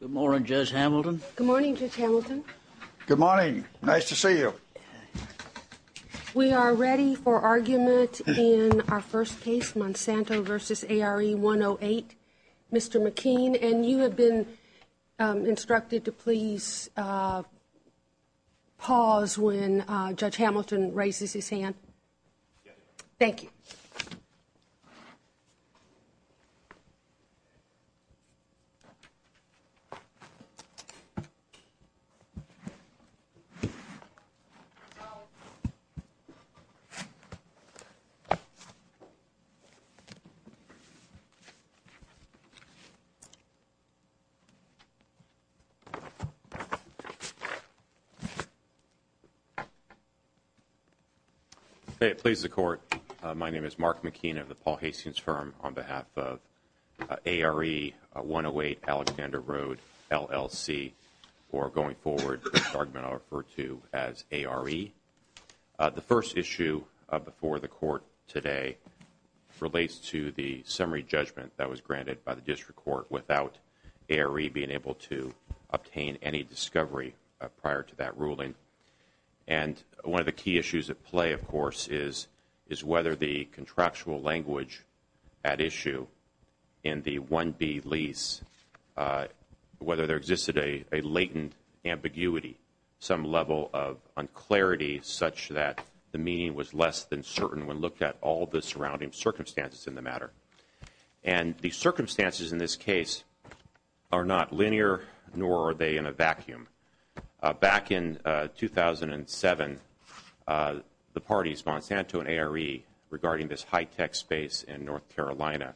Good morning, Judge Hamilton. Good morning, Judge Hamilton. Good morning. Nice to see you. We are ready for argument in our first case, Monsanto v. ARE-108. Mr. McKean, and you have been instructed to please pause when Judge Hamilton raises his hand. Thank you. If it pleases the Court, my name is Mark McKean of the Paul Hastings Firm on behalf of ARE-108 Alexander Road, LLC. For going forward, this argument I'll refer to as ARE. The first issue before the Court today relates to the summary judgment that was granted by the District Court without ARE being able to obtain any discovery prior to that ruling. And one of the key issues at play, of course, is whether the contractual language at issue in the 1B lease, whether there existed a latent ambiguity, some level of unclarity such that the meaning was less than certain when looked at all the surrounding circumstances in the matter. And the circumstances in this case are not linear, nor are they in a vacuum. Back in 2007, the parties, Monsanto and ARE, regarding this high-tech space in North Carolina,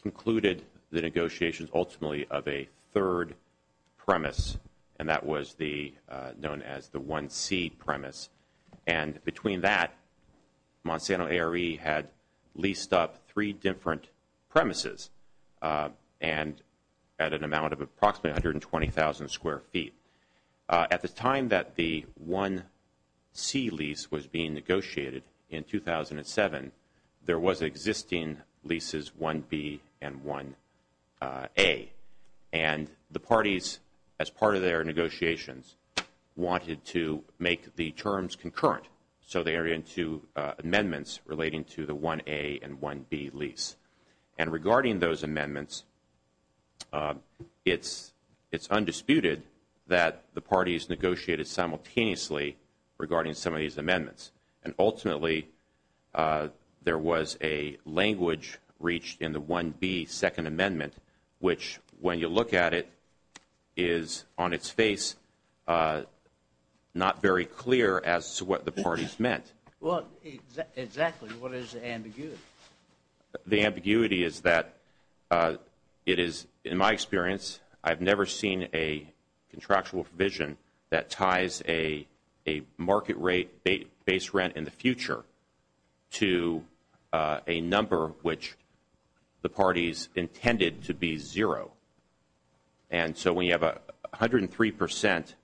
concluded the negotiations ultimately of a third premise, and that was known as the 1C premise. And between that, Monsanto and ARE had leased up three different premises and at an amount of approximately 120,000 square feet. At the time that the 1C lease was being negotiated in 2007, there was existing leases 1B and 1A. And the parties, as part of their negotiations, wanted to make the terms concurrent. So they entered into amendments relating to the 1A and 1B lease. And regarding those amendments, it's undisputed that the parties negotiated simultaneously regarding some of these amendments. And ultimately, there was a language reached in the 1B second amendment, which, when you look at it, is on its face not very clear as to what the parties meant. Well, exactly. What is the ambiguity? The ambiguity is that it is, in my experience, I've never seen a contractual provision that ties a market rate base rent in the future to a number which the parties intended to be zero. And so when you have 103 percent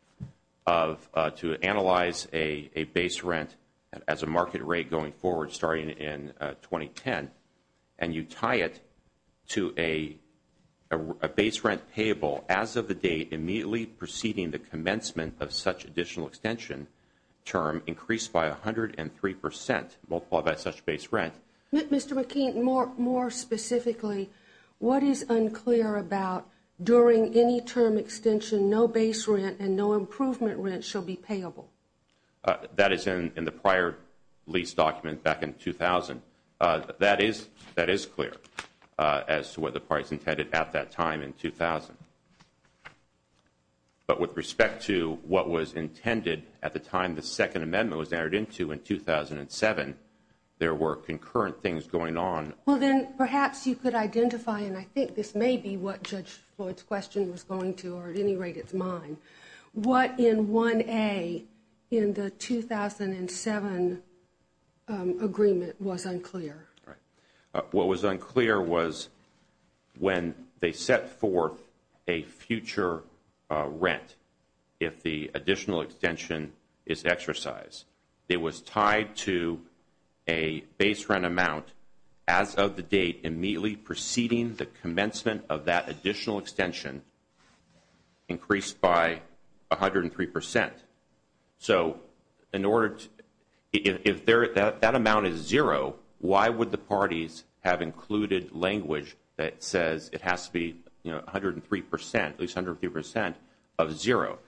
to analyze a base rent as a market rate going forward starting in 2010, and you tie it to a base rent payable as of the date immediately preceding the commencement of such additional extension term, increased by 103 percent, multiplied by such base rent. Mr. McKean, more specifically, what is unclear about during any term extension no base rent and no improvement rent shall be payable? That is in the prior lease document back in 2000. That is clear as to what the parties intended at that time in 2000. But with respect to what was intended at the time the second amendment was entered into in 2007, there were concurrent things going on. Well, then perhaps you could identify, and I think this may be what Judge Floyd's question was going to, or at any rate, it's mine. What in 1A in the 2007 agreement was unclear? What was unclear was when they set forth a future rent if the additional extension is exercised. It was tied to a base rent amount as of the date immediately preceding the commencement of that additional extension increased by 103 percent. So if that amount is zero, why would the parties have included language that says it has to be 103 percent, at least 103 percent of zero?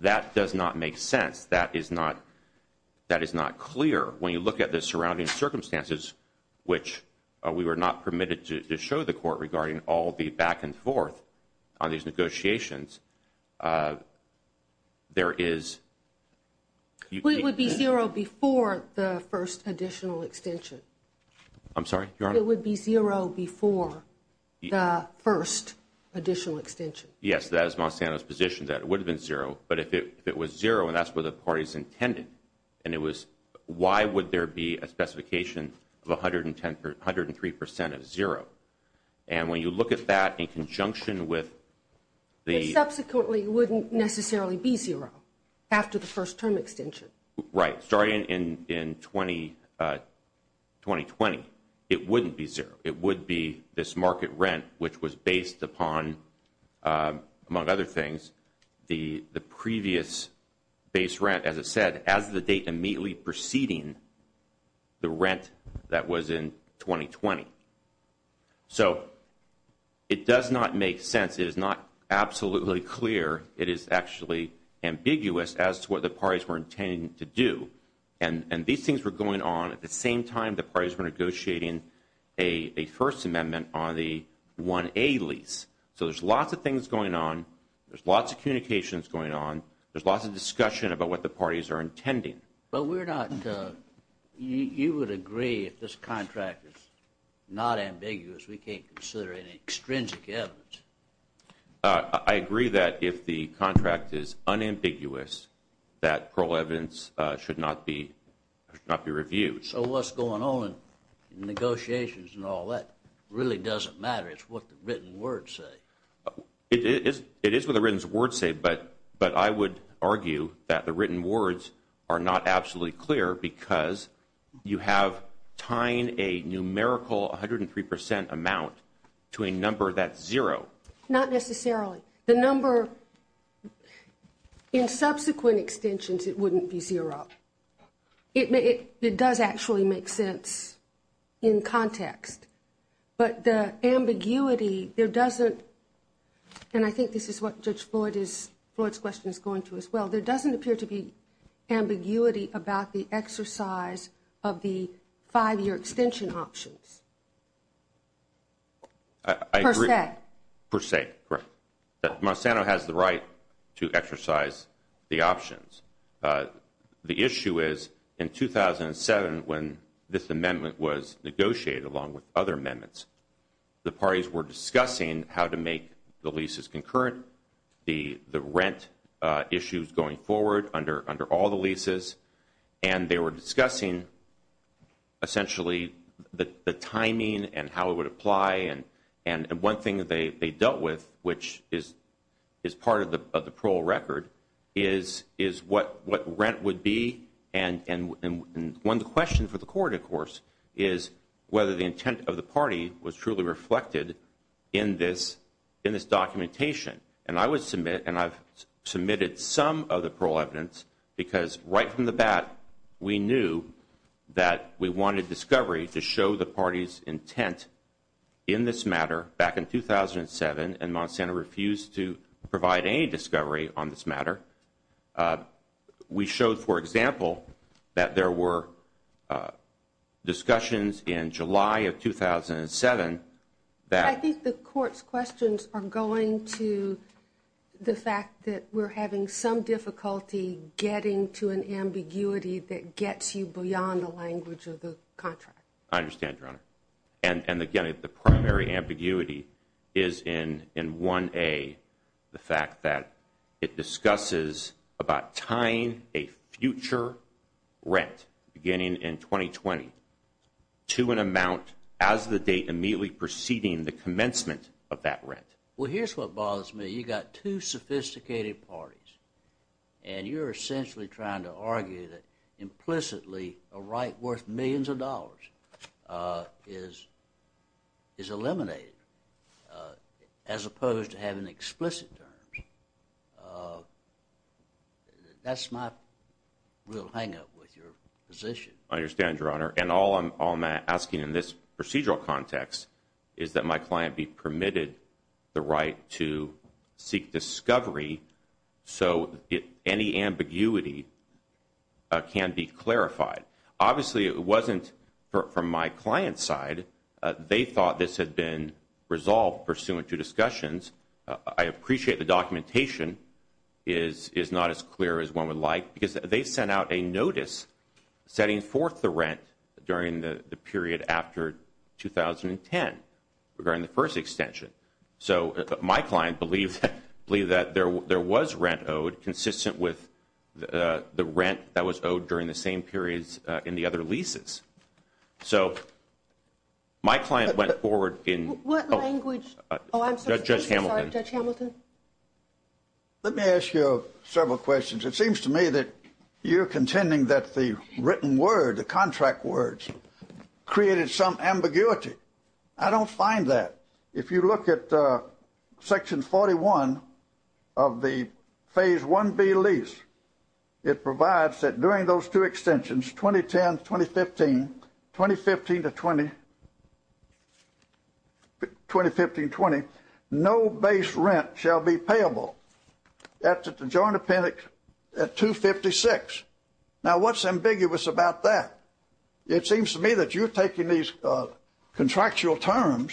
That does not make sense. That is not clear. When you look at the surrounding circumstances, which we were not permitted to show the court regarding all the back and forth on these negotiations, there is. It would be zero before the first additional extension. I'm sorry, Your Honor? It would be zero before the first additional extension. Yes, that is Monsanto's position that it would have been zero. But if it was zero, and that's what the parties intended, and it was, why would there be a specification of 103 percent of zero? And when you look at that in conjunction with the- It subsequently wouldn't necessarily be zero after the first term extension. Right. Starting in 2020, it wouldn't be zero. It would be this market rent, which was based upon, among other things, the previous base rent, as it said, as the date immediately preceding the rent that was in 2020. So it does not make sense. It is not absolutely clear. It is actually ambiguous as to what the parties were intending to do. And these things were going on at the same time the parties were negotiating a First Amendment on the 1A lease. So there's lots of things going on. There's lots of communications going on. There's lots of discussion about what the parties are intending. But we're not- you would agree if this contract is not ambiguous, we can't consider any extrinsic evidence. I agree that if the contract is unambiguous, that parole evidence should not be reviewed. So what's going on in negotiations and all that really doesn't matter. It's what the written words say. It is what the written words say, but I would argue that the written words are not absolutely clear because you have tying a numerical 103 percent amount to a number that's zero. Not necessarily. The number in subsequent extensions, it wouldn't be zero. It does actually make sense in context. But the ambiguity, there doesn't- and I think this is what Judge Floyd is- Floyd's question is going to as well. There doesn't appear to be ambiguity about the exercise of the five-year extension options. I agree. Per se. Per se, correct. Monsanto has the right to exercise the options. The issue is, in 2007 when this amendment was negotiated along with other amendments, the parties were discussing how to make the leases concurrent, the rent issues going forward under all the leases, and they were discussing essentially the timing and how it would apply. One thing they dealt with, which is part of the parole record, is what rent would be. One question for the court, of course, is whether the intent of the party was truly reflected in this documentation. And I would submit, and I've submitted some of the parole evidence, because right from the bat we knew that we wanted discovery to show the party's intent in this matter back in 2007, and Monsanto refused to provide any discovery on this matter. We showed, for example, that there were discussions in July of 2007 that- The fact that we're having some difficulty getting to an ambiguity that gets you beyond the language of the contract. I understand, Your Honor. And, again, the primary ambiguity is in 1A, the fact that it discusses about tying a future rent beginning in 2020 to an amount as of the date immediately preceding the commencement of that rent. Well, here's what bothers me. You've got two sophisticated parties, and you're essentially trying to argue that implicitly a right worth millions of dollars is eliminated, as opposed to having explicit terms. That's my real hang-up with your position. I understand, Your Honor. And all I'm asking in this procedural context is that my client be permitted the right to seek discovery so any ambiguity can be clarified. Obviously, it wasn't from my client's side. They thought this had been resolved pursuant to discussions. I appreciate the documentation is not as clear as one would like, because they sent out a notice setting forth the rent during the period after 2010 regarding the first extension. So my client believed that there was rent owed consistent with the rent that was owed during the same periods in the other leases. So my client went forward in – What language – oh, I'm sorry. Judge Hamilton. Judge Hamilton. Let me ask you several questions. It seems to me that you're contending that the written word, the contract words, created some ambiguity. I don't find that. If you look at Section 41 of the Phase 1B lease, it provides that during those two extensions, 2010-2015, 2015-2020, no base rent shall be payable. That's at the Joint Appendix at 256. Now, what's ambiguous about that? It seems to me that you're taking these contractual terms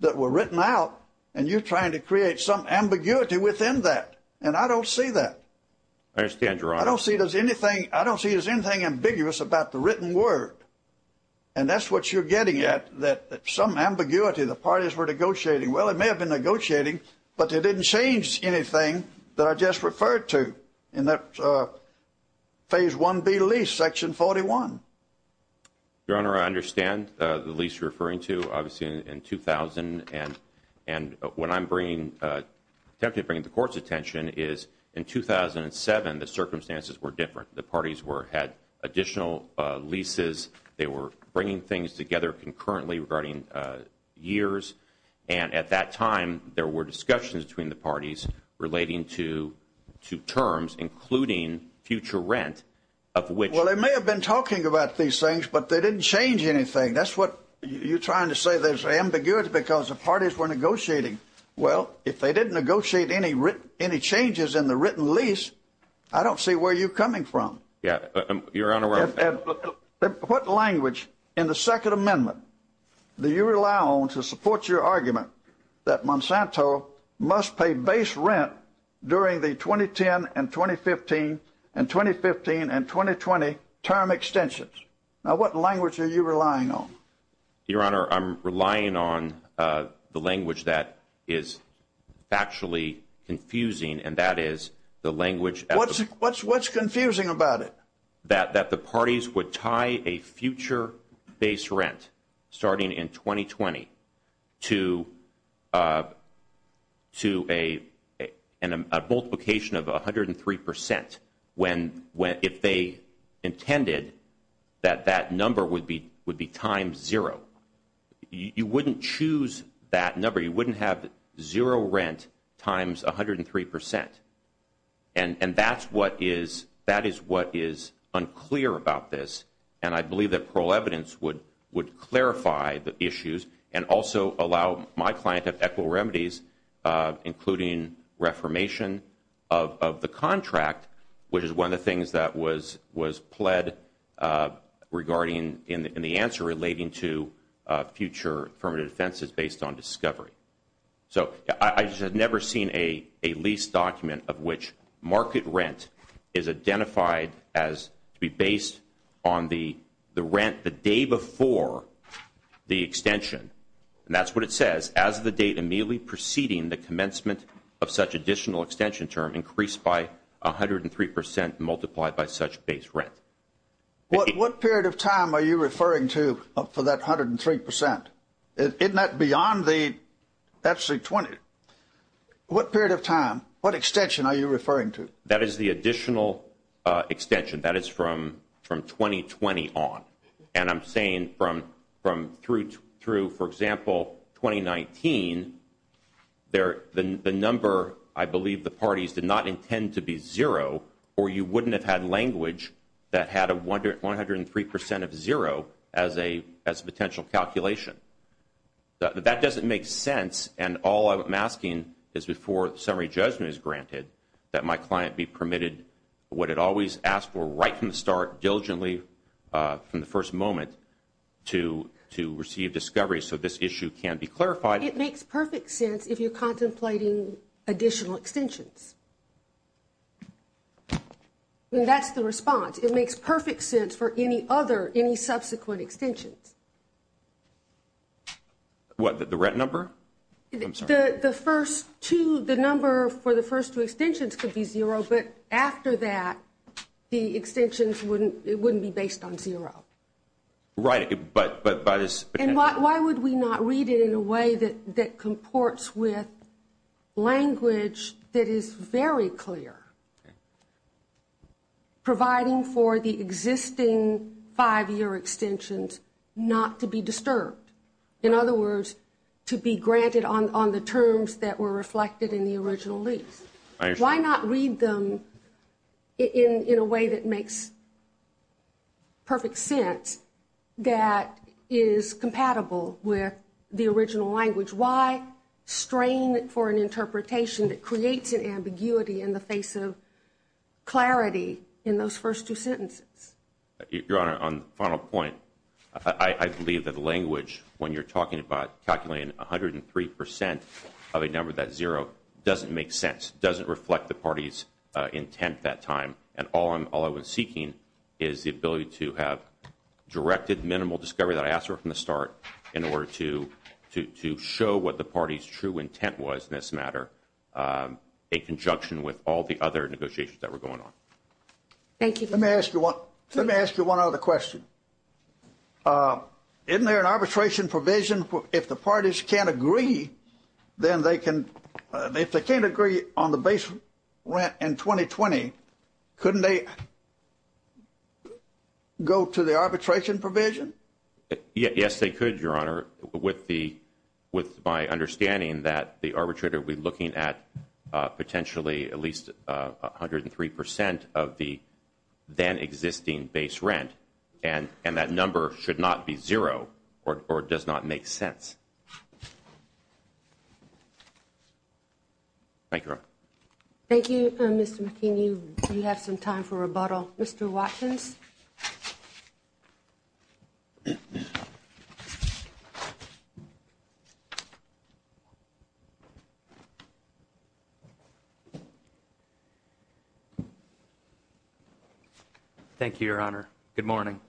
that were written out, and you're trying to create some ambiguity within that, and I don't see that. I understand, Your Honor. I don't see there's anything – I don't see there's anything ambiguous about the written word. And that's what you're getting at, that some ambiguity. The parties were negotiating. Well, they may have been negotiating, but they didn't change anything that I just referred to in that Phase 1B lease, Section 41. Your Honor, I understand the lease you're referring to, obviously, in 2000. And what I'm bringing – attempting to bring to the Court's attention is in 2007, the circumstances were different. The parties had additional leases. They were bringing things together concurrently regarding years. And at that time, there were discussions between the parties relating to terms, including future rent, of which – Well, they may have been talking about these things, but they didn't change anything. That's what you're trying to say there's ambiguity because the parties were negotiating. Well, if they didn't negotiate any changes in the written lease, I don't see where you're coming from. Yeah, Your Honor – What language in the Second Amendment do you rely on to support your argument that Monsanto must pay base rent during the 2010 and 2015 and 2015 and 2020 term extensions? Now, what language are you relying on? Your Honor, I'm relying on the language that is factually confusing, and that is the language – What's confusing about it? That the parties would tie a future base rent starting in 2020 to a multiplication of 103 percent when – if they intended that that number would be times zero. You wouldn't choose that number. You wouldn't have zero rent times 103 percent. And that is what is unclear about this, and I believe that parole evidence would clarify the issues and also allow my client to have equitable remedies, including reformation of the contract, which is one of the things that was pled regarding in the answer relating to future affirmative defenses based on discovery. So I just have never seen a lease document of which market rent is identified as to be based on the rent the day before the extension. And that's what it says. As of the date immediately preceding the commencement of such additional extension term, increased by 103 percent multiplied by such base rent. What period of time are you referring to for that 103 percent? Isn't that beyond the – that's the – what period of time? What extension are you referring to? That is the additional extension. That is from 2020 on. And I'm saying from through, for example, 2019, the number, I believe, the parties did not intend to be zero, or you wouldn't have had language that had a 103 percent of zero as a potential calculation. That doesn't make sense, and all I'm asking is before summary judgment is granted, that my client be permitted what it always asked for right from the start, diligently from the first moment, to receive discovery so this issue can be clarified. It makes perfect sense if you're contemplating additional extensions. That's the response. It makes perfect sense for any other, any subsequent extensions. What, the rent number? The first two, the number for the first two extensions could be zero, but after that, the extensions wouldn't be based on zero. Right, but by this – And why would we not read it in a way that comports with language that is very clear, providing for the existing five-year extensions not to be disturbed? In other words, to be granted on the terms that were reflected in the original lease. Why not read them in a way that makes perfect sense that is compatible with the original language? Why strain for an interpretation that creates an ambiguity in the face of clarity in those first two sentences? Your Honor, on the final point, I believe that language, when you're talking about calculating 103% of a number that's zero, doesn't make sense, doesn't reflect the party's intent that time, and all I was seeking is the ability to have directed minimal discovery that I asked for from the start in order to show what the party's true intent was in this matter, in conjunction with all the other negotiations that were going on. Thank you. Let me ask you one other question. Isn't there an arbitration provision if the parties can't agree on the base rent in 2020, couldn't they go to the arbitration provision? Yes, they could, Your Honor, with my understanding that the arbitrator would be looking at potentially at least 103% of the then existing base rent, and that number should not be zero or does not make sense. Thank you, Your Honor. Thank you, Mr. McKean. You have some time for rebuttal. Mr. Watkins. Thank you, Your Honor. Good morning.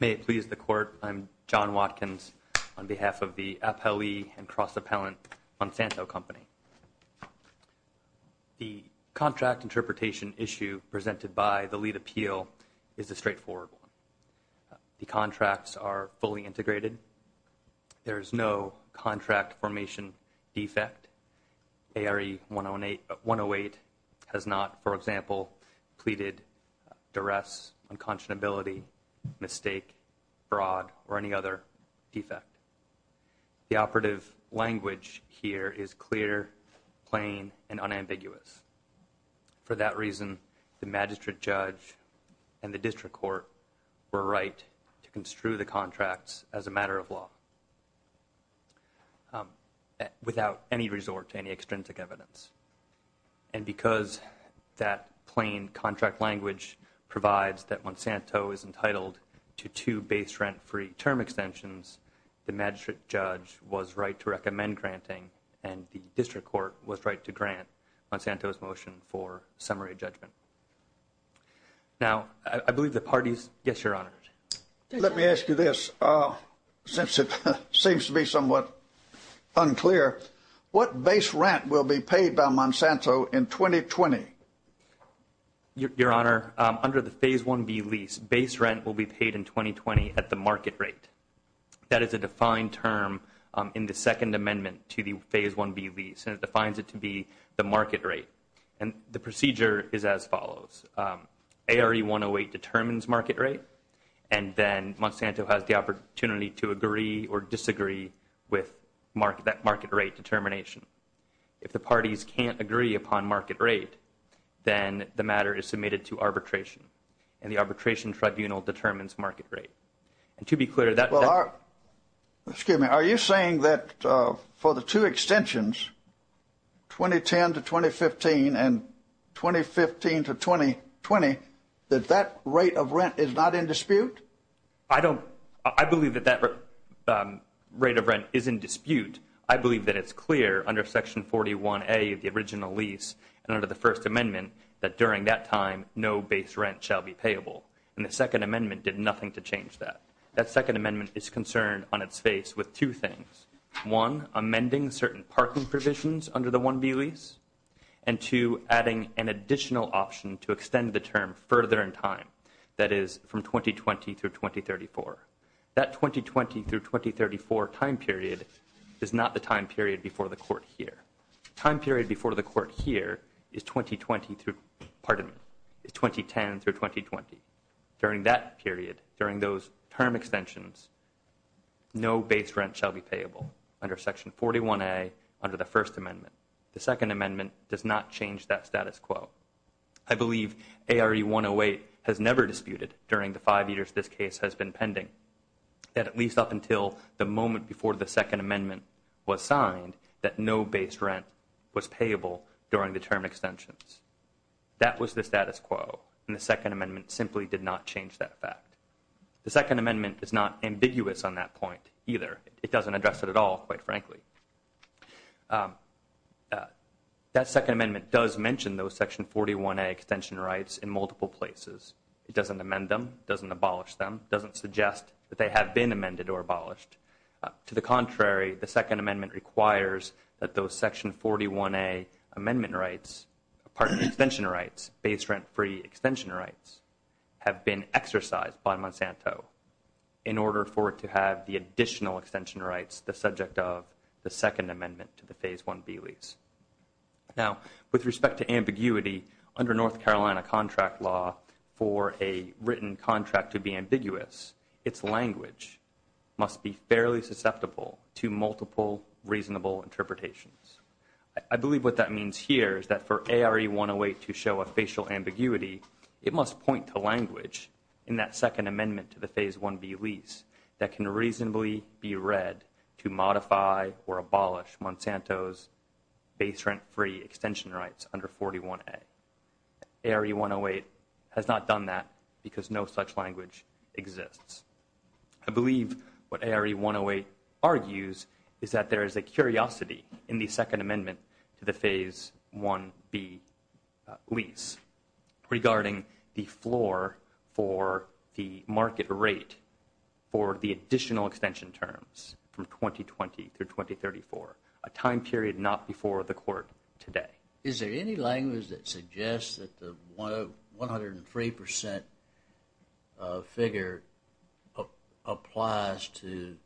May it please the Court, I'm John Watkins on behalf of the Appellee and Cross-Appellant Monsanto Company. The contract interpretation issue presented by the lead appeal is a straightforward one. The contracts are fully integrated. There is no contract formation defect. ARE 108 has not, for example, pleaded duress, unconscionability, mistake, fraud, or any other defect. The operative language here is clear, plain, and unambiguous. For that reason, the Magistrate Judge and the District Court were right to construe the contracts as a matter of law without any resort to any extrinsic evidence. And because that plain contract language provides that Monsanto is entitled to two base rent-free term extensions, the Magistrate Judge was right to recommend granting, and the District Court was right to grant Monsanto's motion for summary judgment. Now, I believe the parties – yes, Your Honor. Let me ask you this, since it seems to be somewhat unclear. What base rent will be paid by Monsanto in 2020? Your Honor, under the Phase 1B lease, base rent will be paid in 2020 at the market rate. That is a defined term in the Second Amendment to the Phase 1B lease, and it defines it to be the market rate. And the procedure is as follows. ARE 108 determines market rate, and then Monsanto has the opportunity to agree or disagree with that market rate determination. If the parties can't agree upon market rate, then the matter is submitted to arbitration, and the arbitration tribunal determines market rate. Well, are – excuse me. Are you saying that for the two extensions, 2010 to 2015 and 2015 to 2020, that that rate of rent is not in dispute? I don't – I believe that that rate of rent is in dispute. I believe that it's clear under Section 41A of the original lease and under the First Amendment that during that time no base rent shall be payable. And the Second Amendment did nothing to change that. That Second Amendment is concerned on its face with two things. One, amending certain parking provisions under the 1B lease. And two, adding an additional option to extend the term further in time, that is from 2020 through 2034. That 2020 through 2034 time period is not the time period before the Court here. Time period before the Court here is 2020 through – pardon me – is 2010 through 2020. During that period, during those term extensions, no base rent shall be payable under Section 41A under the First Amendment. The Second Amendment does not change that status quo. I believe ARE108 has never disputed during the five years this case has been pending, that at least up until the moment before the Second Amendment was signed, that no base rent was payable during the term extensions. That was the status quo, and the Second Amendment simply did not change that fact. The Second Amendment is not ambiguous on that point either. It doesn't address it at all, quite frankly. That Second Amendment does mention those Section 41A extension rights in multiple places. It doesn't amend them, doesn't abolish them, doesn't suggest that they have been amended or abolished. To the contrary, the Second Amendment requires that those Section 41A amendment rights – pardon me – extension rights, base rent-free extension rights, have been exercised by Monsanto in order for it to have the additional extension rights the subject of the Second Amendment to the Phase 1B lease. Now, with respect to ambiguity, under North Carolina contract law, for a written contract to be ambiguous, its language must be fairly susceptible to multiple reasonable interpretations. I believe what that means here is that for ARE108 to show a facial ambiguity, it must point to language in that Second Amendment to the Phase 1B lease that can reasonably be read to modify or abolish Monsanto's base rent-free extension rights under 41A. ARE108 has not done that because no such language exists. I believe what ARE108 argues is that there is a curiosity in the Second Amendment to the Phase 1B lease regarding the floor for the market rate for the additional extension terms from 2020 through 2034, a time period not before the Court today. Is there any language that suggests that the 103 percent figure applies to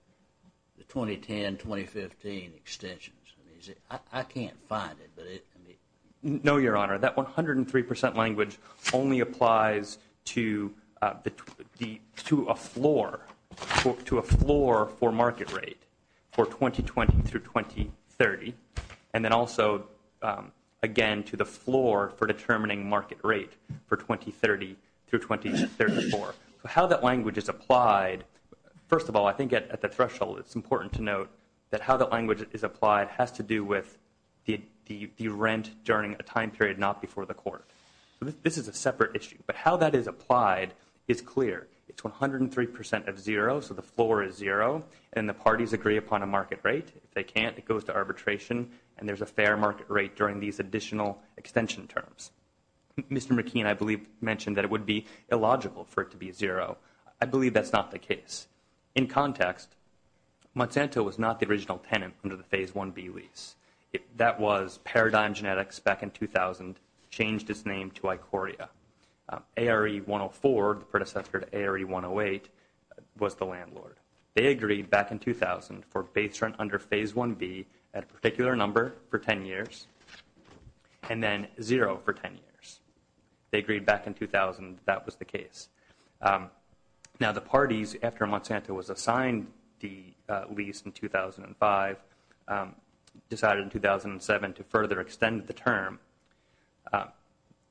the 2010-2015 extensions? I can't find it. No, Your Honor. That 103 percent language only applies to a floor for market rate for 2020 through 2030 and then also, again, to the floor for determining market rate for 2030 through 2034. So how that language is applied, first of all, I think at the threshold it's important to note that how the language is applied has to do with the rent during a time period not before the Court. This is a separate issue, but how that is applied is clear. It's 103 percent of zero, so the floor is zero, and the parties agree upon a market rate. If they can't, it goes to arbitration, and there's a fair market rate during these additional extension terms. Mr. McKean, I believe, mentioned that it would be illogical for it to be zero. I believe that's not the case. In context, Monsanto was not the original tenant under the Phase 1B lease. That was Paradigm Genetics back in 2000 changed its name to Icoria. ARE 104, the predecessor to ARE 108, was the landlord. They agreed back in 2000 for base rent under Phase 1B at a particular number for 10 years and then zero for 10 years. They agreed back in 2000 that that was the case. Now, the parties, after Monsanto was assigned the lease in 2005, decided in 2007 to further extend the term.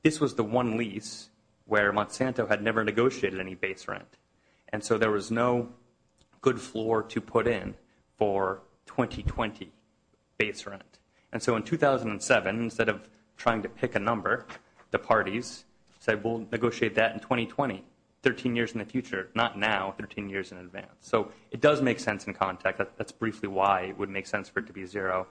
This was the one lease where Monsanto had never negotiated any base rent, and so there was no good floor to put in for 2020 base rent. And so in 2007, instead of trying to pick a number, the parties said, we'll negotiate that in 2020, 13 years in the future, not now, 13 years in advance. So it does make sense in context. That's briefly why it would make sense for it to be zero.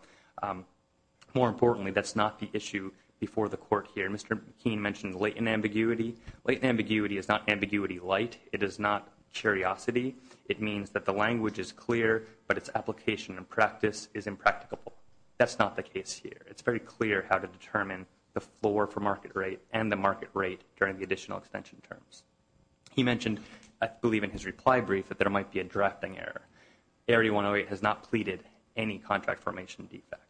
More importantly, that's not the issue before the court here. Mr. McKean mentioned latent ambiguity. Latent ambiguity is not ambiguity light. It is not curiosity. It means that the language is clear, but its application and practice is impracticable. That's not the case here. It's very clear how to determine the floor for market rate and the market rate during the additional extension terms. He mentioned, I believe in his reply brief, that there might be a drafting error. Area 108 has not pleaded any contract formation defect.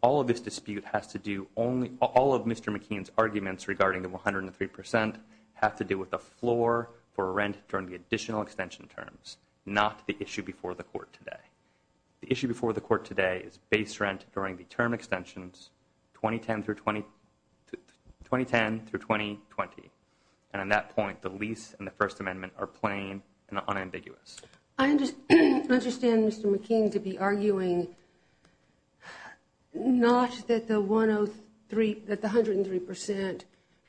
All of this dispute has to do only – all of Mr. McKean's arguments regarding the 103% have to do with the floor for rent during the additional extension terms, not the issue before the court today. The issue before the court today is base rent during the term extensions 2010 through 2020. And at that point, the lease and the First Amendment are plain and unambiguous. I understand Mr. McKean to be arguing not that the 103%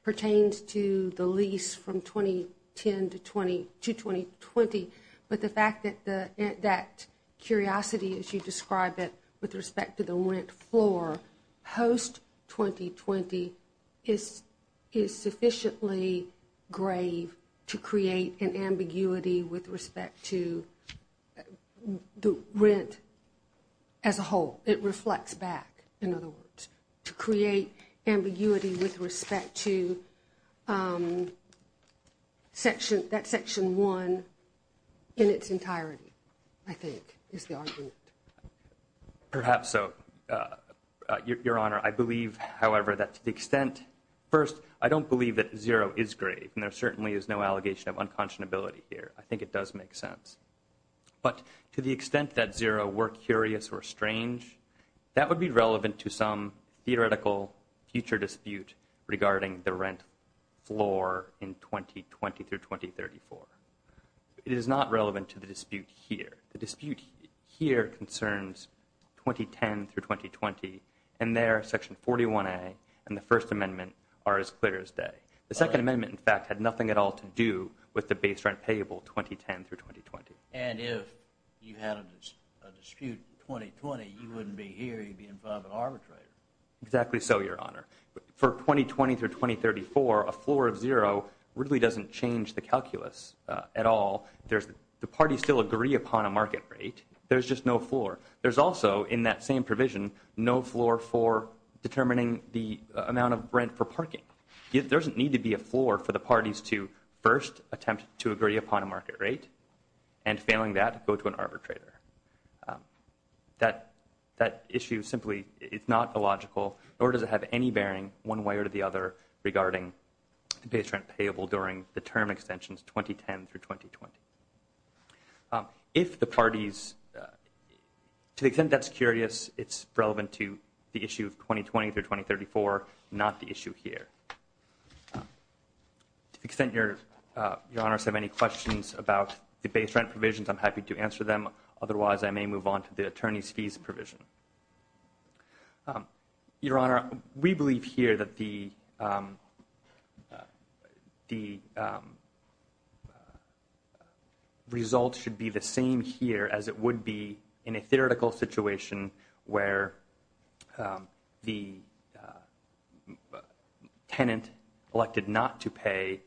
pertains to the lease from 2010 to 2020, but the fact that that curiosity as you describe it with respect to the rent floor post-2020 is sufficiently grave to create an ambiguity with respect to the rent as a whole. It reflects back, in other words, to create ambiguity with respect to that Section 1 in its entirety, I think, is the argument. Perhaps so, Your Honor. I believe, however, that to the extent – first, I don't believe that zero is grave, and there certainly is no allegation of unconscionability here. I think it does make sense. But to the extent that zero were curious or strange, that would be relevant to some theoretical future dispute regarding the rent floor in 2020 through 2034. It is not relevant to the dispute here. The dispute here concerns 2010 through 2020. And there, Section 41A and the First Amendment are as clear as day. The Second Amendment, in fact, had nothing at all to do with the base rent payable 2010 through 2020. And if you had a dispute in 2020, you wouldn't be here. You'd be in front of an arbitrator. Exactly so, Your Honor. For 2020 through 2034, a floor of zero really doesn't change the calculus at all. The parties still agree upon a market rate. There's just no floor. There's also, in that same provision, no floor for determining the amount of rent for parking. There doesn't need to be a floor for the parties to first attempt to agree upon a market rate, and failing that, go to an arbitrator. That issue simply is not illogical, nor does it have any bearing one way or the other regarding the base rent payable during the term extensions 2010 through 2020. If the parties, to the extent that's curious, it's relevant to the issue of 2020 through 2034, not the issue here. To the extent Your Honors have any questions about the base rent provisions, I'm happy to answer them. Otherwise, I may move on to the attorney's fees provision. Your Honor, we believe here that the results should be the same here as it would be in a theoretical situation where the tenant elected not to pay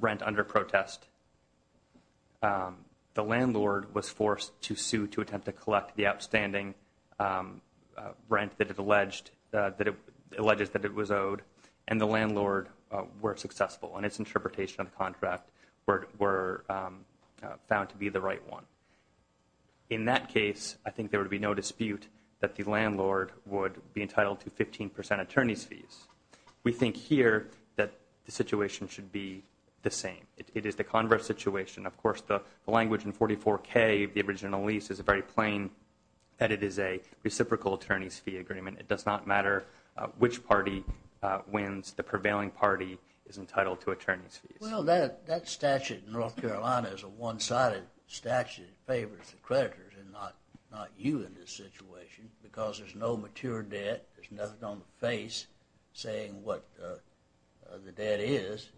rent under protest. The landlord was forced to sue to attempt to collect the outstanding rent that it alleged that it was owed, and the landlord were successful in its interpretation of the contract were found to be the right one. In that case, I think there would be no dispute that the landlord would be entitled to 15 percent attorney's fees. We think here that the situation should be the same. It is the converse situation. Of course, the language in 44K of the original lease is very plain that it is a reciprocal attorney's fee agreement. It does not matter which party wins. The prevailing party is entitled to attorney's fees. Well, that statute in North Carolina is a one-sided statute. It favors the creditors and not you in this situation because there's no mature debt. There's nothing on the face saying what the debt is.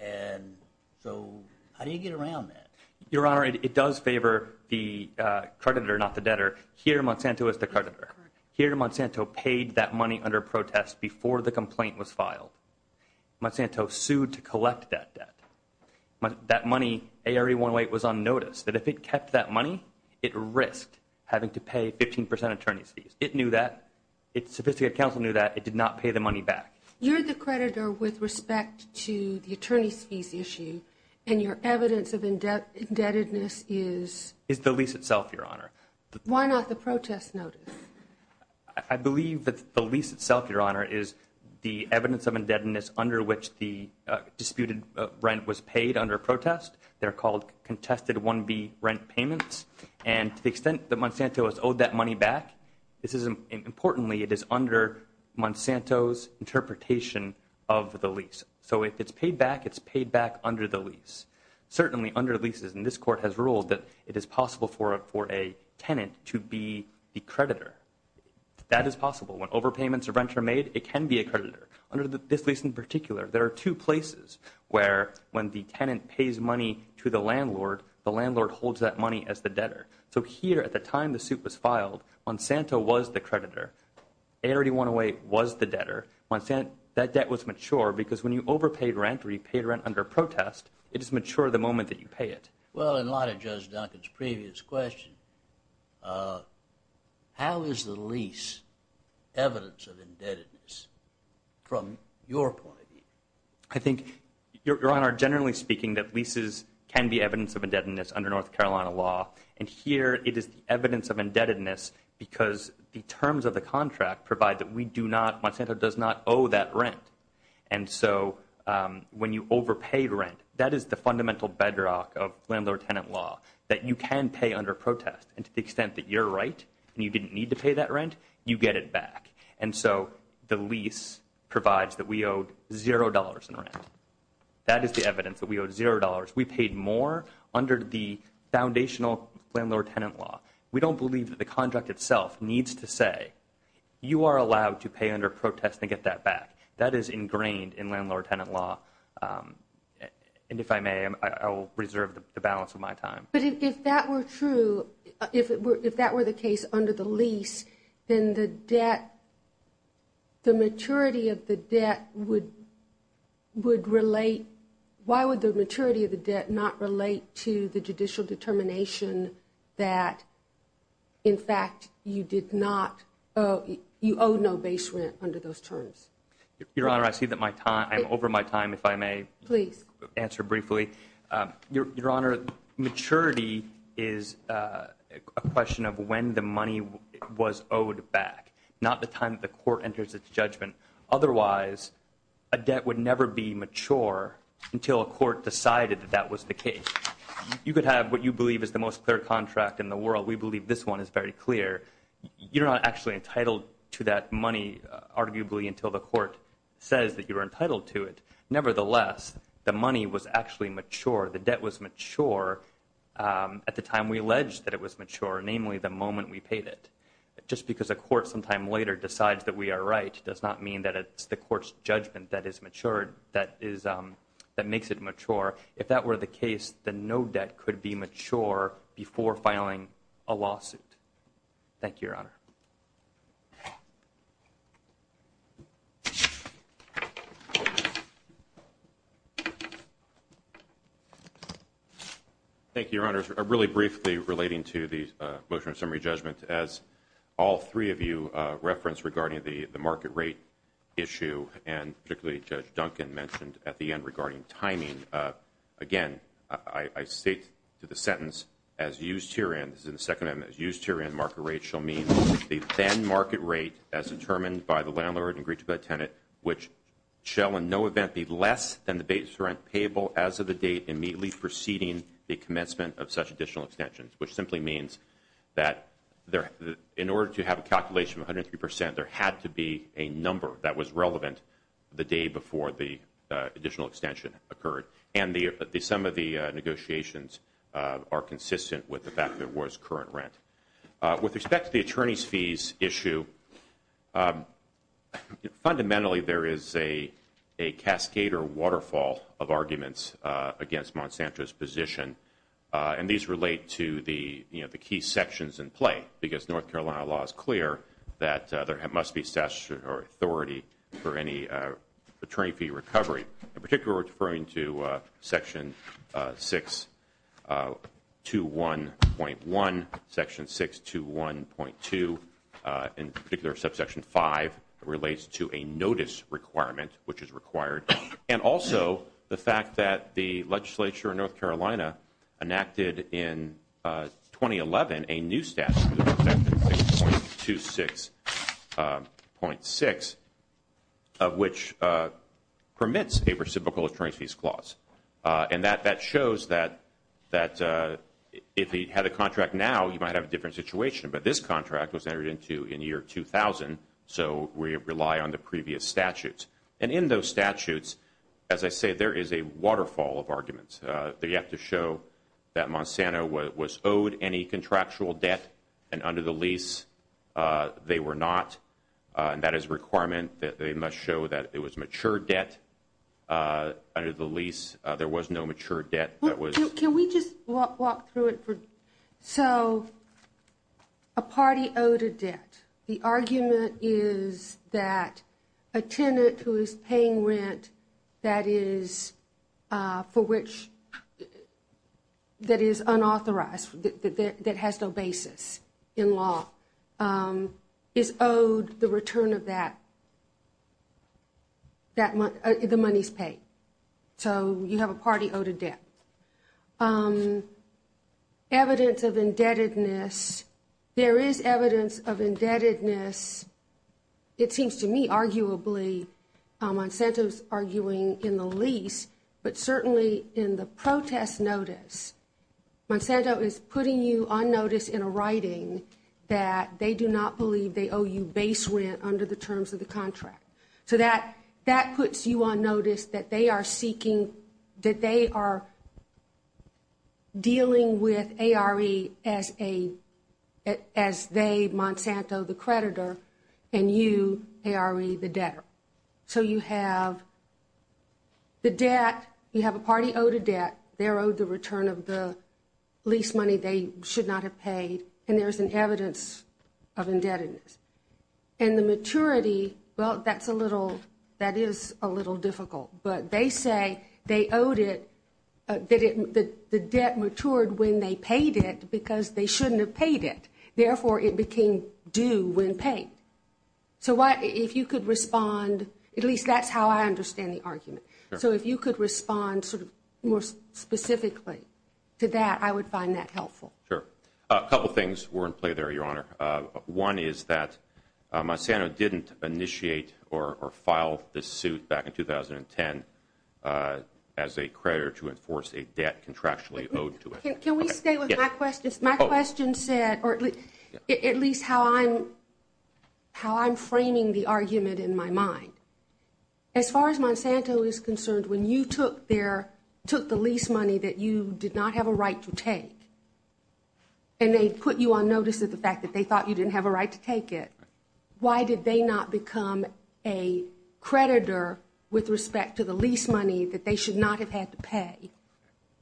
And so how do you get around that? Your Honor, it does favor the creditor, not the debtor. Here, Monsanto is the creditor. Here, Monsanto paid that money under protest before the complaint was filed. Monsanto sued to collect that debt. That money, ARE-108, was on notice. But if it kept that money, it risked having to pay 15 percent attorney's fees. It knew that. Its sophisticated counsel knew that. It did not pay the money back. You're the creditor with respect to the attorney's fees issue. And your evidence of indebtedness is? Is the lease itself, Your Honor. Why not the protest notice? I believe that the lease itself, Your Honor, is the evidence of indebtedness under which the disputed rent was paid under protest. They're called contested 1B rent payments. And to the extent that Monsanto has owed that money back, importantly, it is under Monsanto's interpretation of the lease. So if it's paid back, it's paid back under the lease. Certainly, under leases, and this Court has ruled that it is possible for a tenant to be the creditor. That is possible. When overpayments of rent are made, it can be a creditor. Under this lease in particular, there are two places where when the tenant pays money to the landlord, the landlord holds that money as the debtor. So here, at the time the suit was filed, Monsanto was the creditor. ARD 108 was the debtor. That debt was mature because when you overpaid rent or you paid rent under protest, it is mature the moment that you pay it. Well, in light of Judge Duncan's previous question, how is the lease evidence of indebtedness from your point of view? I think, Your Honor, generally speaking, that leases can be evidence of indebtedness under North Carolina law. And here, it is the evidence of indebtedness because the terms of the contract provide that we do not, Monsanto does not owe that rent. And so when you overpay rent, that is the fundamental bedrock of landlord-tenant law, that you can pay under protest. And to the extent that you're right and you didn't need to pay that rent, you get it back. And so the lease provides that we owed $0 in rent. That is the evidence, that we owed $0. We paid more under the foundational landlord-tenant law. We don't believe that the contract itself needs to say, you are allowed to pay under protest and get that back. That is ingrained in landlord-tenant law. And if I may, I will reserve the balance of my time. But if that were true, if that were the case under the lease, then the debt, the maturity of the debt would relate, why would the maturity of the debt not relate to the judicial determination that, in fact, you did not, you owe no base rent under those terms? Your Honor, I see that my time, I'm over my time, if I may answer briefly. Your Honor, maturity is a question of when the money was owed back, not the time that the court enters its judgment. Otherwise, a debt would never be mature until a court decided that that was the case. You could have what you believe is the most clear contract in the world. We believe this one is very clear. You're not actually entitled to that money, arguably, until the court says that you're entitled to it. Nevertheless, the money was actually mature. The debt was mature at the time we alleged that it was mature, namely the moment we paid it. Just because a court sometime later decides that we are right does not mean that it's the court's judgment that is mature, that makes it mature. If that were the case, then no debt could be mature before filing a lawsuit. Thank you, Your Honor. Thank you, Your Honor. Really briefly relating to the motion of summary judgment, as all three of you referenced regarding the market rate issue, and particularly Judge Duncan mentioned at the end regarding timing. Again, I state to the sentence, as used herein, this is in the second amendment, as used herein, market rate shall mean the then market rate as determined by the landlord and agreed to by the tenant, which shall in no event be less than the base rent payable as of the date immediately preceding the commencement of such additional extensions, which simply means that in order to have a calculation of 103 percent, there had to be a number that was relevant the day before the additional extension occurred. And some of the negotiations are consistent with the fact that it was current rent. With respect to the attorney's fees issue, fundamentally there is a cascade or waterfall of arguments against Monsanto's position. And these relate to the key sections in play, because North Carolina law is clear that there must be statutory authority for any attorney fee recovery. In particular, referring to section 621.1, section 621.2, in particular subsection 5, relates to a notice requirement, which is required, and also the fact that the legislature in North Carolina enacted in 2011 a new statute, section 626.6, which permits a reciprocal attorney's fees clause. And that shows that if you had a contract now, you might have a different situation. But this contract was entered into in the year 2000, so we rely on the previous statutes. And in those statutes, as I say, there is a waterfall of arguments. They have to show that Monsanto was owed any contractual debt, and under the lease they were not. That is a requirement that they must show that it was mature debt. Under the lease, there was no mature debt. Can we just walk through it? So a party owed a debt. The argument is that a tenant who is paying rent that is unauthorized, that has no basis in law, is owed the return of that, the money's paid. So you have a party owed a debt. Evidence of indebtedness. There is evidence of indebtedness. It seems to me, arguably, Monsanto's arguing in the lease, but certainly in the protest notice. Monsanto is putting you on notice in a writing that they do not believe they owe you base rent under the terms of the contract. So that puts you on notice that they are seeking, that they are dealing with ARE as they, Monsanto, the creditor, and you, ARE, the debtor. So you have the debt. You have a party owed a debt. They're owed the return of the lease money they should not have paid. And there's an evidence of indebtedness. And the maturity, well, that's a little, that is a little difficult. But they say they owed it, that the debt matured when they paid it because they shouldn't have paid it. Therefore, it became due when paid. So if you could respond, at least that's how I understand the argument. So if you could respond sort of more specifically to that, I would find that helpful. Sure. A couple things were in play there, Your Honor. One is that Monsanto didn't initiate or file this suit back in 2010 as a creditor to enforce a debt contractually owed to it. Can we stay with my questions? My question said, or at least how I'm framing the argument in my mind. As far as Monsanto is concerned, when you took their, took the lease money that you did not have a right to take and they put you on notice of the fact that they thought you didn't have a right to take it, why did they not become a creditor with respect to the lease money that they should not have had to pay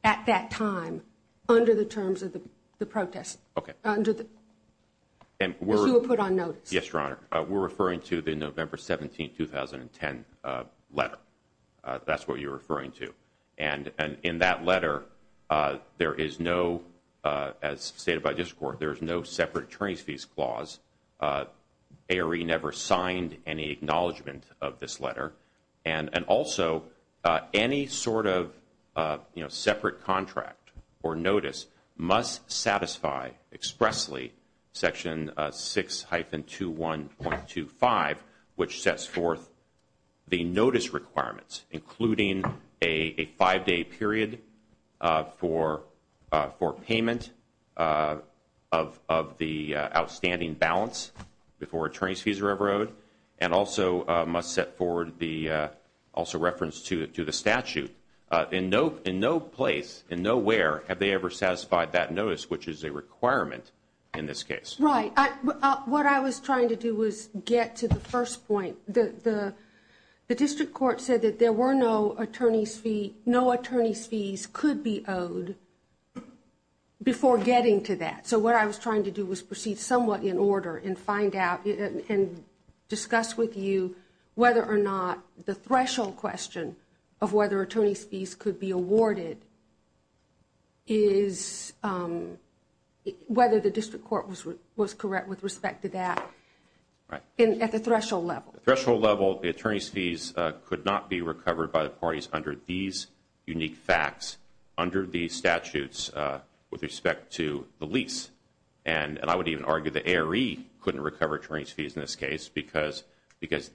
at that time under the terms of the protest? Okay. Under the, as you were put on notice. Yes, Your Honor. We're referring to the November 17, 2010 letter. That's what you're referring to. And in that letter, there is no, as stated by this Court, there is no separate attorney's fees clause. ARE never signed any acknowledgment of this letter. And also, any sort of, you know, separate contract or notice must satisfy expressly Section 6-21.25, which sets forth the notice requirements, including a five-day period for payment of the outstanding balance before attorney's fees are ever owed, and also must set forward the, also reference to the statute. In no place, in nowhere, have they ever satisfied that notice, which is a requirement in this case. Right. What I was trying to do was get to the first point. The district court said that there were no attorney's fees, no attorney's fees could be owed before getting to that. So what I was trying to do was proceed somewhat in order and find out and discuss with you whether or not the threshold question of whether attorney's fees could be awarded is whether the district court was correct with respect to that at the threshold level. At the threshold level, the attorney's fees could not be recovered by the parties under these unique facts, under these statutes with respect to the lease. And I would even argue the ARE couldn't recover attorney's fees in this case because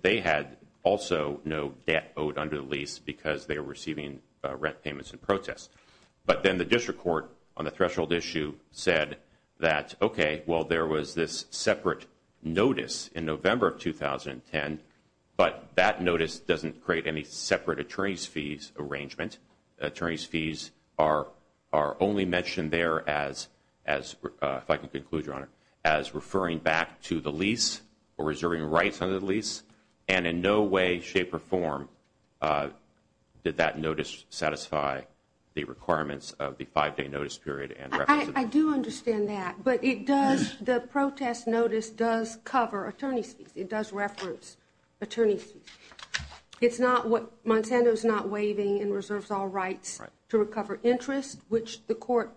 they had also no debt owed under the lease because they were receiving rent payments in protest. But then the district court on the threshold issue said that, okay, well, there was this separate notice in November of 2010, but that notice doesn't create any separate attorney's fees arrangement. Attorney's fees are only mentioned there as, if I can conclude, Your Honor, as referring back to the lease or reserving rights under the lease. And in no way, shape, or form did that notice satisfy the requirements of the five-day notice period. I do understand that. But it does, the protest notice does cover attorney's fees. It does reference attorney's fees. It's not what, Monsanto's not waiving and reserves all rights to recover interest, which the court,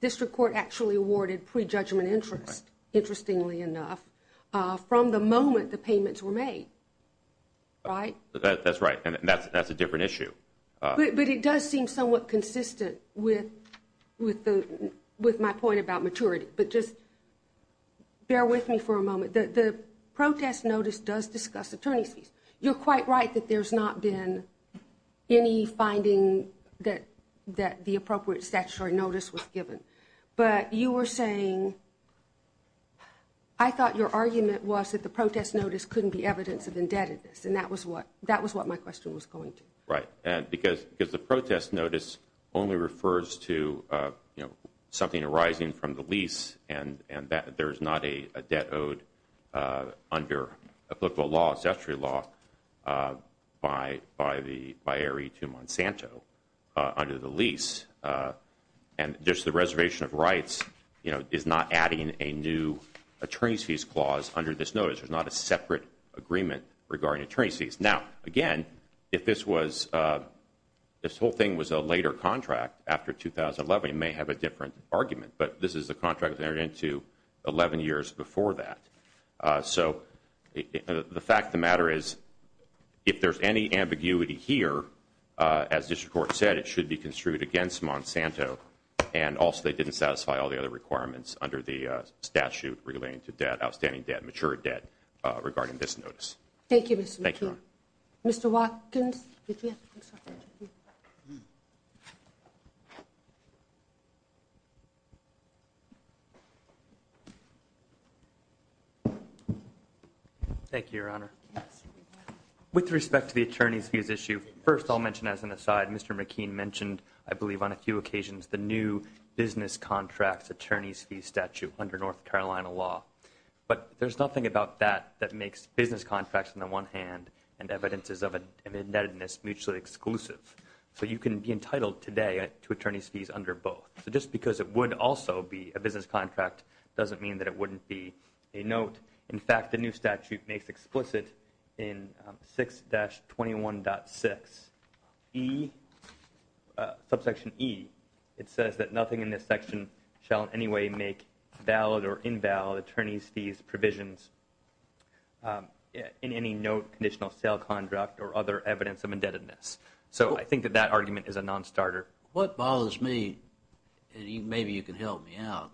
district court actually awarded prejudgment interest, interestingly enough, from the moment the payments were made. Right? That's right. And that's a different issue. But it does seem somewhat consistent with my point about maturity. But just bear with me for a moment. The protest notice does discuss attorney's fees. You're quite right that there's not been any finding that the appropriate statutory notice was given. But you were saying, I thought your argument was that the protest notice couldn't be evidence of indebtedness, and that was what my question was going to. Right. Because the protest notice only refers to, you know, something arising from the lease, and there's not a debt owed under applicable law, statutory law, by ARE to Monsanto under the lease. And just the reservation of rights, you know, is not adding a new attorney's fees clause under this notice. There's not a separate agreement regarding attorney's fees. Now, again, if this whole thing was a later contract after 2011, it may have a different argument. But this is a contract that entered into 11 years before that. So the fact of the matter is, if there's any ambiguity here, as district court said, it should be construed against Monsanto, and also they didn't satisfy all the other requirements under the statute relating to outstanding debt, mature debt, regarding this notice. Thank you, Mr. McKean. Thank you, Your Honor. Mr. Watkins. Thank you, Your Honor. With respect to the attorney's fees issue, first I'll mention as an aside, Mr. McKean mentioned, I believe, on a few occasions the new business contracts attorney's fees statute under North Carolina law. But there's nothing about that that makes business contracts, on the one hand, and evidences of indebtedness mutually exclusive. So you can be entitled today to attorney's fees under both. So just because it would also be a business contract doesn't mean that it wouldn't be a note. In fact, the new statute makes explicit in 6-21.6E, subsection E, it says that nothing in this section shall in any way make valid or invalid attorney's fees provisions in any note, conditional sale contract, or other evidence of indebtedness. So I think that that argument is a non-starter. What bothers me, and maybe you can help me out,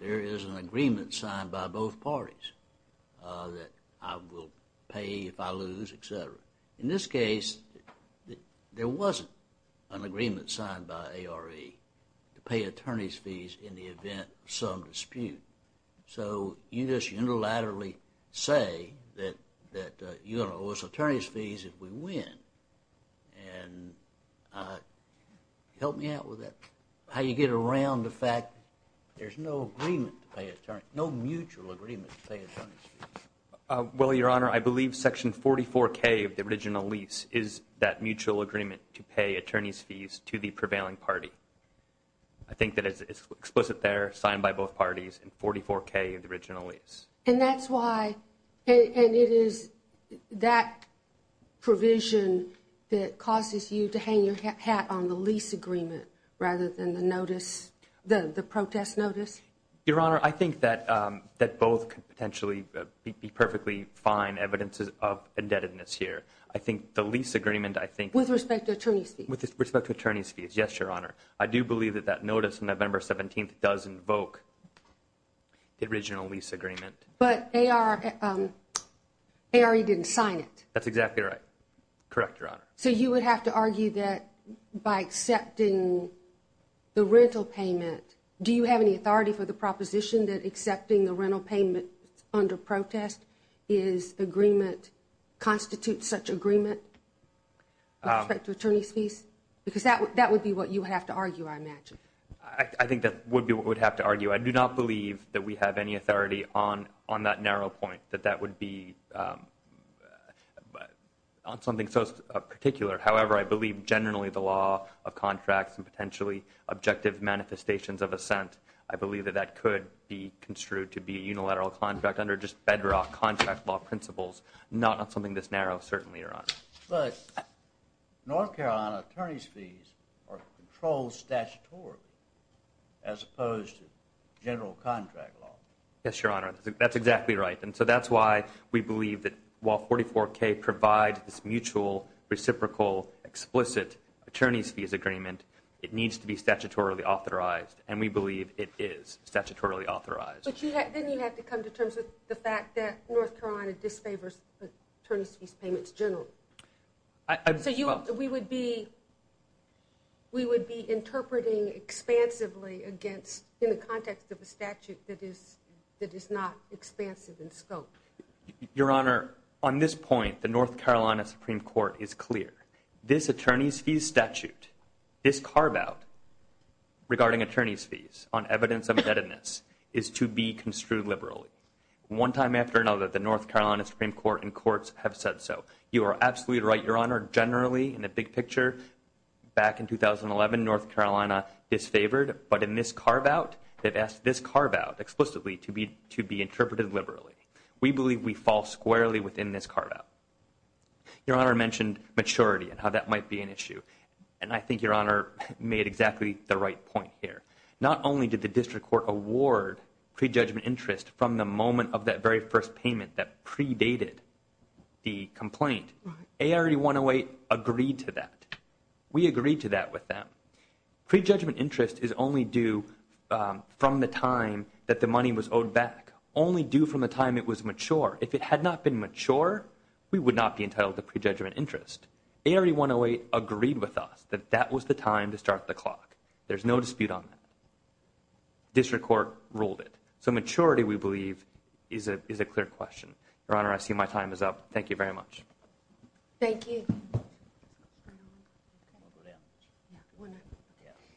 there is an agreement signed by both parties that I will pay if I lose, etc. In this case, there wasn't an agreement signed by ARE to pay attorney's fees in the event of some dispute. So you just unilaterally say that you're going to owe us attorney's fees if we win. And help me out with that. How do you get around the fact there's no agreement to pay attorney's fees, no mutual agreement to pay attorney's fees? Well, Your Honor, I believe section 44K of the original lease is that mutual agreement to pay attorney's fees to the prevailing party. I think that it's explicit there, signed by both parties in 44K of the original lease. And that's why, and it is that provision that causes you to hang your hat on the lease agreement rather than the notice, the protest notice? Your Honor, I think that both could potentially be perfectly fine evidences of indebtedness here. I think the lease agreement, I think... With respect to attorney's fees? With respect to attorney's fees, yes, Your Honor. I do believe that that notice on November 17th does invoke the original lease agreement. But ARE didn't sign it. That's exactly right. Correct, Your Honor. So you would have to argue that by accepting the rental payment, do you have any authority for the proposition that accepting the rental payment under protest constitutes such agreement with respect to attorney's fees? Because that would be what you would have to argue, I imagine. I think that would be what we would have to argue. I do not believe that we have any authority on that narrow point, that that would be on something so particular. However, I believe generally the law of contracts and potentially objective manifestations of assent, I believe that that could be construed to be a unilateral contract under just federal contract law principles, not on something this narrow, certainly, Your Honor. But North Carolina attorney's fees are controlled statutorily as opposed to general contract law. Yes, Your Honor, that's exactly right. And so that's why we believe that while 44K provides this mutual, reciprocal, explicit attorney's fees agreement, it needs to be statutorily authorized. And we believe it is statutorily authorized. But then you have to come to terms with the fact that North Carolina disfavors attorney's fees payments generally. So we would be interpreting expansively in the context of a statute that is not expansive in scope. Your Honor, on this point, the North Carolina Supreme Court is clear. This attorney's fees statute, this carve-out regarding attorney's fees on evidence of indebtedness is to be construed liberally. One time after another, the North Carolina Supreme Court and courts have said so. You are absolutely right, Your Honor. Generally, in the big picture, back in 2011, North Carolina disfavored. But in this carve-out, they've asked this carve-out explicitly to be interpreted liberally. We believe we fall squarely within this carve-out. Your Honor mentioned maturity and how that might be an issue. And I think Your Honor made exactly the right point here. Not only did the district court award prejudgment interest from the moment of that very first payment that predated the complaint, ARD 108 agreed to that. We agreed to that with them. Prejudgment interest is only due from the time that the money was owed back, only due from the time it was mature. If it had not been mature, we would not be entitled to prejudgment interest. ARD 108 agreed with us that that was the time to start the clock. There's no dispute on that. District court ruled it. So maturity, we believe, is a clear question. Your Honor, I see my time is up. Thank you very much. Thank you.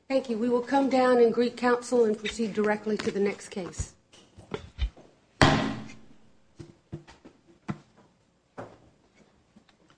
Thank you. We will come down and greet counsel and proceed directly to the next case.